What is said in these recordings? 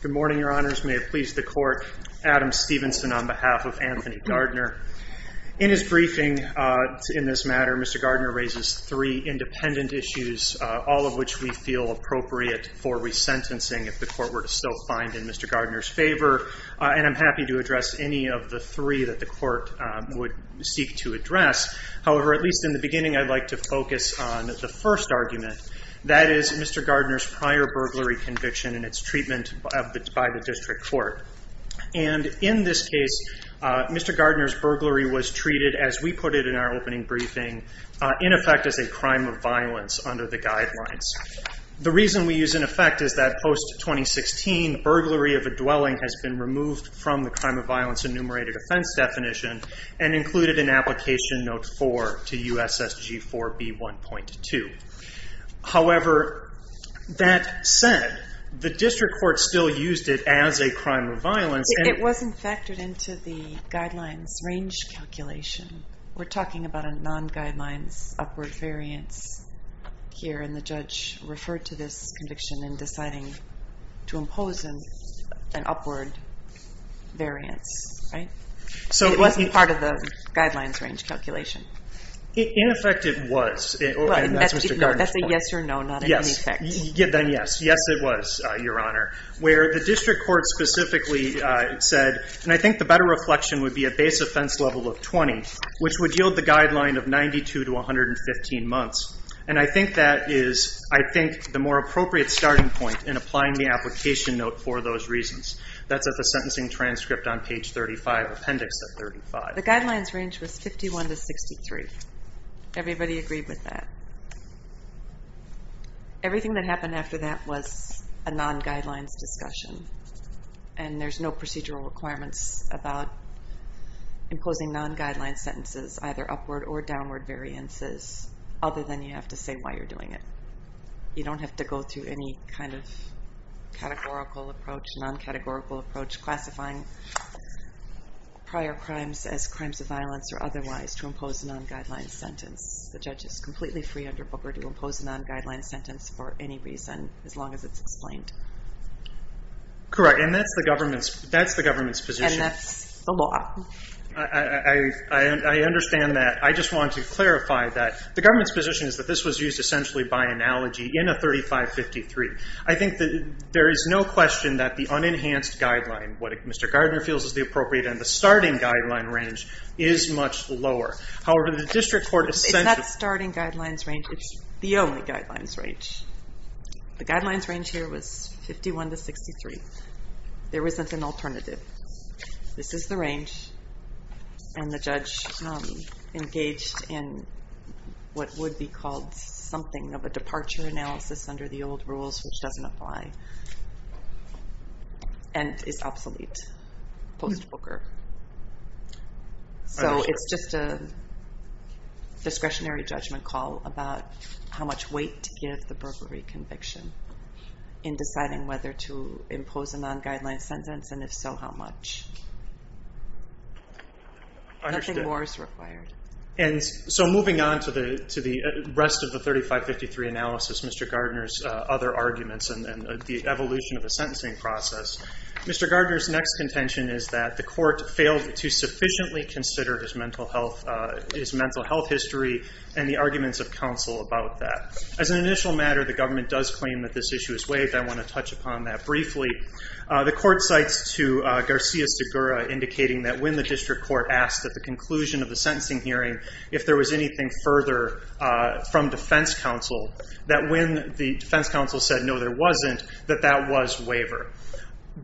Good morning, Your Honors. May it please the Court, Adam Stevenson on behalf of Anthony Gardner. In his briefing in this matter, Mr. Gardner raises three independent issues, all of which we feel appropriate for resentencing if the Court were to still find in Mr. Gardner's favor, and I'm happy to address any of the three that the Court would seek to address. However, at least in the beginning, I'd like to focus on the first argument. That is Mr. Gardner's prior burglary conviction and its treatment by the District Court. And in this case, Mr. Gardner's burglary was treated, as we put it in our opening briefing, in effect as a crime of violence under the guidelines. The reason we use in effect is that post-2016, burglary of a dwelling has been removed from the crime of violence enumerated offense definition and included in application note 4 to USSG 4B 1.2. However, that said, the District Court still used it as a crime of violence. It wasn't factored into the guidelines range calculation. We're talking about a non-guidelines upward variance here, and the judge referred to this conviction in deciding to impose an upward variance, right? It wasn't part of the guidelines range calculation. In effect, it was. That's a yes or no, not an in effect. Yes, it was, Your Honor. Where the District Court specifically said, and I think the better reflection would be a base offense level of 20, which would yield the guideline of 92 to 115 months. And I think that is, I think, the more appropriate starting point in applying the application note for those reasons. That's at the sentencing transcript on page 35, appendix of 35. The guidelines range was 51 to 63. Everybody agreed with that. Everything that happened after that was a non-guidelines discussion. And there's no procedural requirements about imposing non-guidelines sentences, either upward or downward variances, other than you have to say why you're doing it. You don't have to go through any kind of categorical approach, non-categorical approach, classifying prior crimes as crimes of violence or otherwise to impose a non-guidelines sentence. The judge is completely free under Booker to impose a non-guidelines sentence for any reason, as long as it's explained. Correct. And that's the government's position. And that's the law. I understand that. I just want to clarify that the government's position is that this was used essentially by analogy in a 3553. I think that there is no question that the unenhanced guideline, what Mr. Gardner feels is the appropriate and the starting guideline range, is much lower. However, the district court essentially It's not starting guidelines range. It's the only guidelines range. The guidelines range here was 51 to 63. There isn't an alternative. This is the range. And the judge engaged in what would be called something of a departure analysis under the old rules, which doesn't apply, and is obsolete post-Booker. So it's just a discretionary judgment call about how much weight to give the burglary conviction in deciding whether to impose a non-guidelines sentence, and if so, how much. Nothing more is required. And so moving on to the rest of the 3553 analysis, Mr. Gardner's other arguments and the evolution of the sentencing process, Mr. Gardner's next contention is that the court failed to sufficiently consider his mental health, his mental health history and the arguments of counsel about that. As an initial matter, the government does claim that this issue is waived. I want to touch upon that briefly. The court cites to Garcia Segura, indicating that when the district court asked at the conclusion of the sentencing hearing, if there was anything further from defense counsel, that when the defense counsel said no, there wasn't, that that was waiver.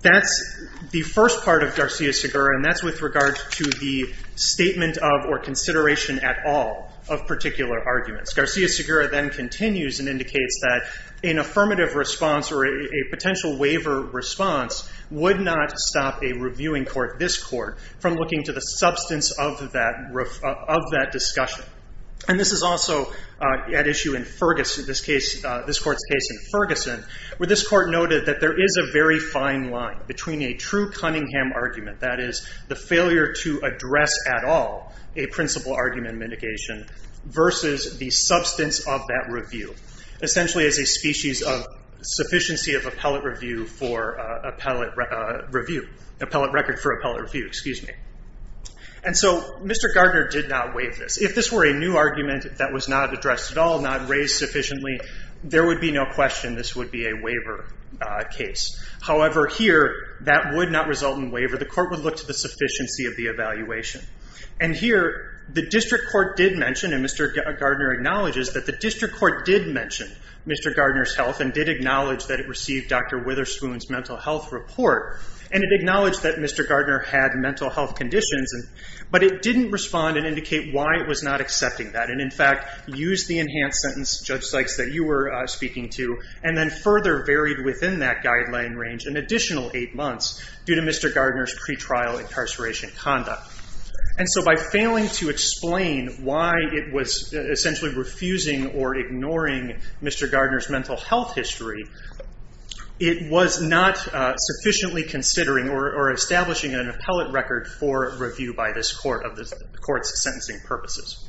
That's the first part of Garcia Segura, and that's with regard to the statement of or consideration at all of particular arguments. Garcia Segura then continues and indicates that an affirmative response or a potential waiver response would not stop a reviewing court, this court, from looking to the substance of that discussion. And this is also at issue in Ferguson, this case, this court's case in Ferguson, where this court noted that there is a very fine line between a true Cunningham argument, that is the failure to address at all a principal argument mitigation, versus the substance of that review, essentially as a species of sufficiency of appellate review for appellate review, appellate record for appellate review, excuse me. And so Mr. Gardner did not waive this. If this were a new argument that was not addressed at all, not raised sufficiently, there would be no question this would be a waiver case. However, here, that would not result in waiver. The court would look to the sufficiency of the evaluation. And here, the district court did mention, and Mr. Gardner acknowledges that the district court did mention Mr. Gardner's health and did acknowledge that it received Dr. Witherspoon's mental health report, and it acknowledged that Mr. Gardner had mental health conditions, but it didn't respond and indicate why it was not accepting that, and in fact used the enhanced sentence, Judge Sykes, that you were speaking to, and then further varied within that guideline range an additional eight months due to Mr. Gardner's pretrial incarceration conduct. And so by failing to explain why it was essentially refusing or ignoring Mr. Gardner's mental health history, it was not sufficiently considering or establishing an appellate record for review by this court of the court's sentencing purposes.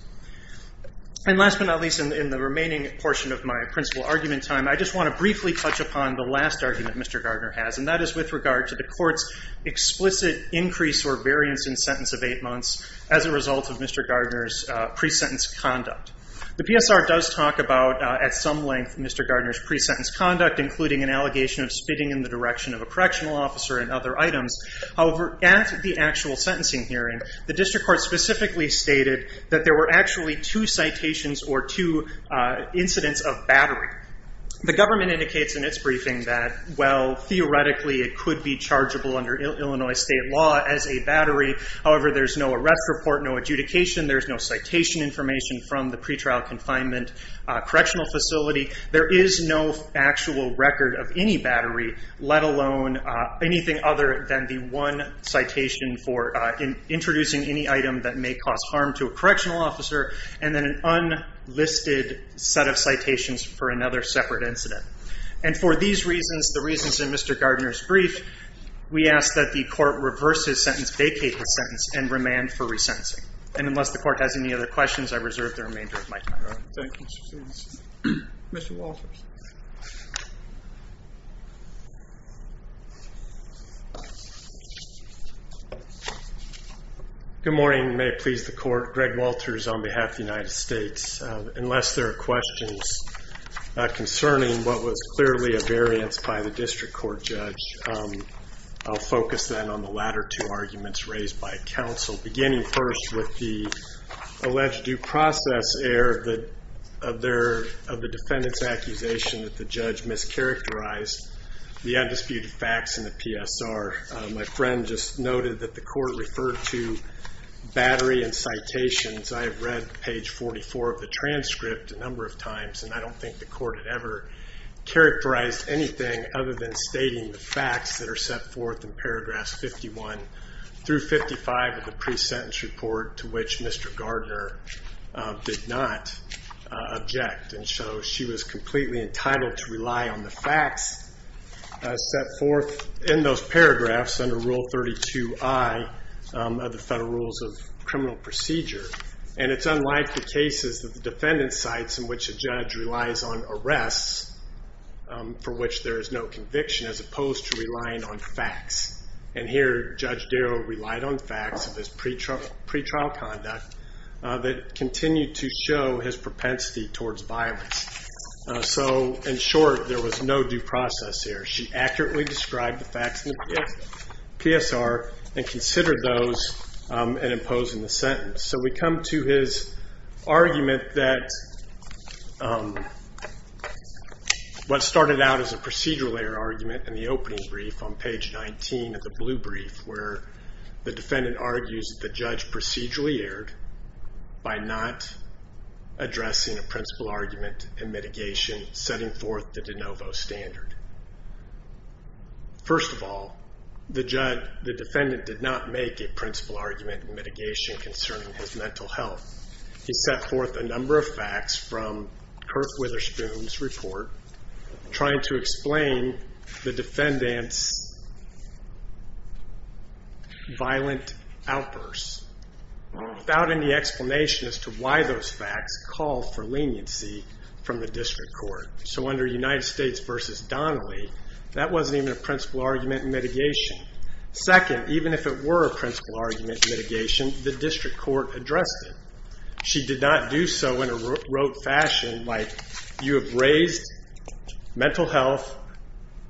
And last but not least, in the remaining portion of my principal argument time, I just want to briefly touch upon the last argument Mr. Gardner has, and that is with regard to the court's explicit increase or variance in sentence of eight months as a result of Mr. Gardner's pre-sentence conduct. The PSR does talk about, at some length, Mr. Gardner's pre-sentence conduct, including an allegation of spitting in the direction of a correctional officer and other items. However, at the actual sentencing hearing, the district court specifically stated that there were actually two citations or two incidents of battery. The government indicates in its briefing that, well, theoretically, it could be chargeable under Illinois state law as a battery. However, there's no arrest report, no adjudication. There's no citation information from the pretrial confinement correctional facility. There is no actual record of any battery, let alone anything other than the one citation for introducing any item that may cause harm to a correctional officer, and then an unlisted set of citations for another separate incident. And for these reasons, the reasons in Mr. Gardner's brief, we ask that the court reverse his sentence, vacate his sentence, and remand for resentencing. And unless the court has any other questions, I reserve the remainder of my time. Thank you, Mr. Stevens. Mr. Walters. Good morning. May it please the court. Greg Walters on behalf of the United States. Unless there are questions concerning what was clearly a variance by the district court judge, I'll focus then on the latter two arguments raised by counsel, beginning first with the alleged due process error of the defendant's accusation that the judge mischaracterized the undisputed facts in the PSR. My friend just noted that the court referred to battery and citations. I have read page 44 of the transcript a number of times, and I don't think the court had ever characterized anything other than stating the facts that are set forth in paragraphs 51 through 55 of the pre-sentence report, to which Mr. Gardner did not object. And so she was completely entitled to rely on the facts set forth in those paragraphs under Rule 32I of the Federal Rules of Criminal Procedure. And it's unlike the cases of the defendant's sites in which a judge relies on arrests for which there is no conviction as opposed to relying on facts. And here Judge Darrow relied on facts of his pretrial conduct that continued to show his propensity towards violence. So, in short, there was no due process error. She accurately described the facts in the PSR and considered those in imposing the sentence. So we come to his argument that what started out as a procedural error argument in the opening brief on page 19 of the blue brief, where the defendant argues that the judge procedurally erred by not addressing a principal argument in mitigation setting forth the de novo standard. First of all, the defendant did not make a principal argument in mitigation concerning his mental health. He set forth a number of facts from Kurt Witherspoon's report trying to explain the defendant's violent outbursts without any explanation as to why those facts called for leniency from the district court. So under United States v. Donnelly, that wasn't even a principal argument in mitigation. Second, even if it were a principal argument in mitigation, the district court addressed it. She did not do so in a rote fashion like, you have raised mental health,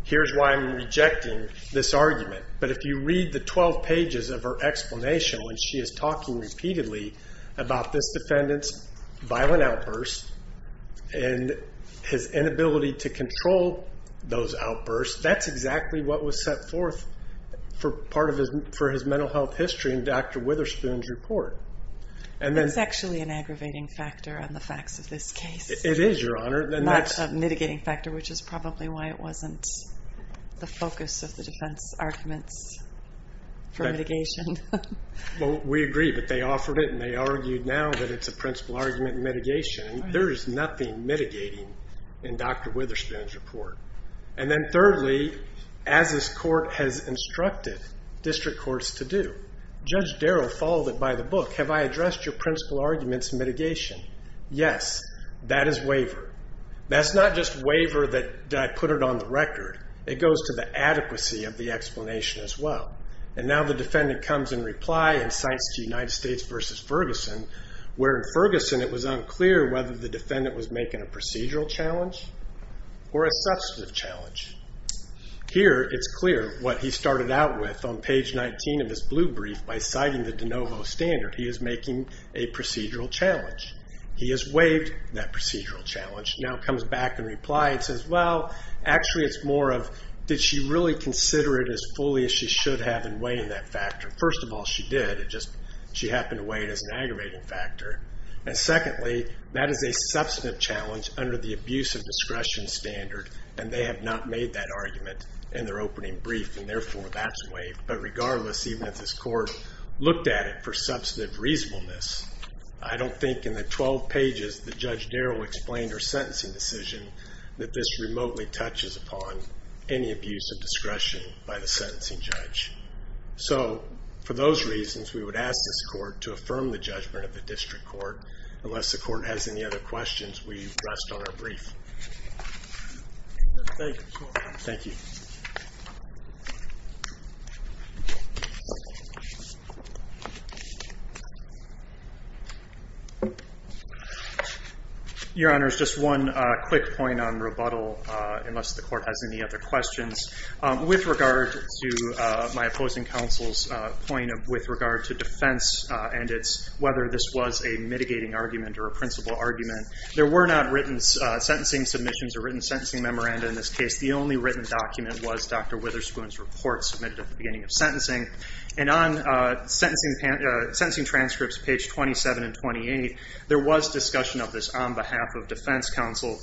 here's why I'm rejecting this argument. But if you read the 12 pages of her explanation when she is talking repeatedly about this defendant's violent outbursts and his inability to control those outbursts, that's exactly what was set forth for part of his mental health history in Dr. Witherspoon's report. That's actually an aggravating factor on the facts of this case. It is, Your Honor. Not a mitigating factor, which is probably why it wasn't the focus of the defense arguments for mitigation. Well, we agree, but they offered it and they argued now that it's a principal argument in mitigation. There is nothing mitigating in Dr. Witherspoon's report. And then thirdly, as this court has instructed district courts to do, Judge Darrow followed it by the book. Have I addressed your principal arguments in mitigation? Yes, that is waiver. That's not just waiver that I put it on the record. It goes to the adequacy of the explanation as well. And now the defendant comes in reply and cites United States v. Ferguson, where in Ferguson it was unclear whether the defendant was making a procedural challenge or a substantive challenge. Here it's clear what he started out with on page 19 of his blue brief by citing the de novo standard. He is making a procedural challenge. He has waived that procedural challenge. Now comes back in reply and says, well, actually it's more of did she really consider it as fully as she should have in weighing that factor? First of all, she did. It's just she happened to weigh it as an aggravating factor. And secondly, that is a substantive challenge under the abuse of discretion standard, and they have not made that argument in their opening brief, and therefore that's waived. But regardless, even if this court looked at it for substantive reasonableness, I don't think in the 12 pages that Judge Darrow explained her sentencing decision that this remotely touches upon any abuse of discretion by the sentencing judge. So for those reasons, we would ask this court to affirm the judgment of the district court. Unless the court has any other questions, we rest on our brief. Thank you. Your Honor, just one quick point on rebuttal. Unless the court has any other questions. With regard to my opposing counsel's point with regard to defense and whether this was a mitigating argument or a principal argument, there were not written sentencing submissions or written sentencing memoranda in this case. The only written document was Dr. Witherspoon's report submitted at the beginning of sentencing. And on sentencing transcripts, page 27 and 28, there was discussion of this on behalf of defense counsel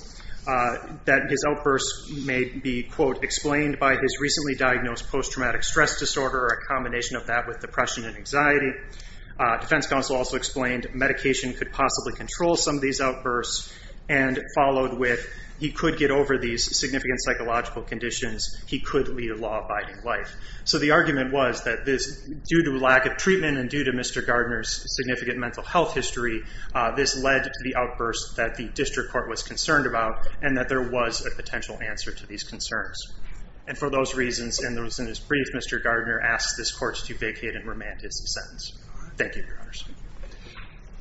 that his outbursts may be, quote, explained by his recently diagnosed post-traumatic stress disorder, a combination of that with depression and anxiety. Defense counsel also explained medication could possibly control some of these outbursts, and followed with he could get over these significant psychological conditions. He could lead a law-abiding life. So the argument was that this, due to lack of treatment and due to Mr. Gardner's significant mental health history, this led to the outbursts that the district court was concerned about and that there was a potential answer to these concerns. And for those reasons, and those in his brief, Mr. Gardner asked this court to vacate and remand his sentence. Thank you, Your Honor.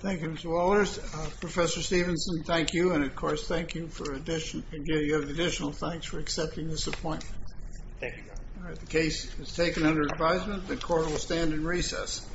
Thank you, Mr. Walters. Professor Stevenson, thank you. And, of course, thank you for additional thanks for accepting this appointment. Thank you, Your Honor. The case is taken under advisement. The court will stand in recess.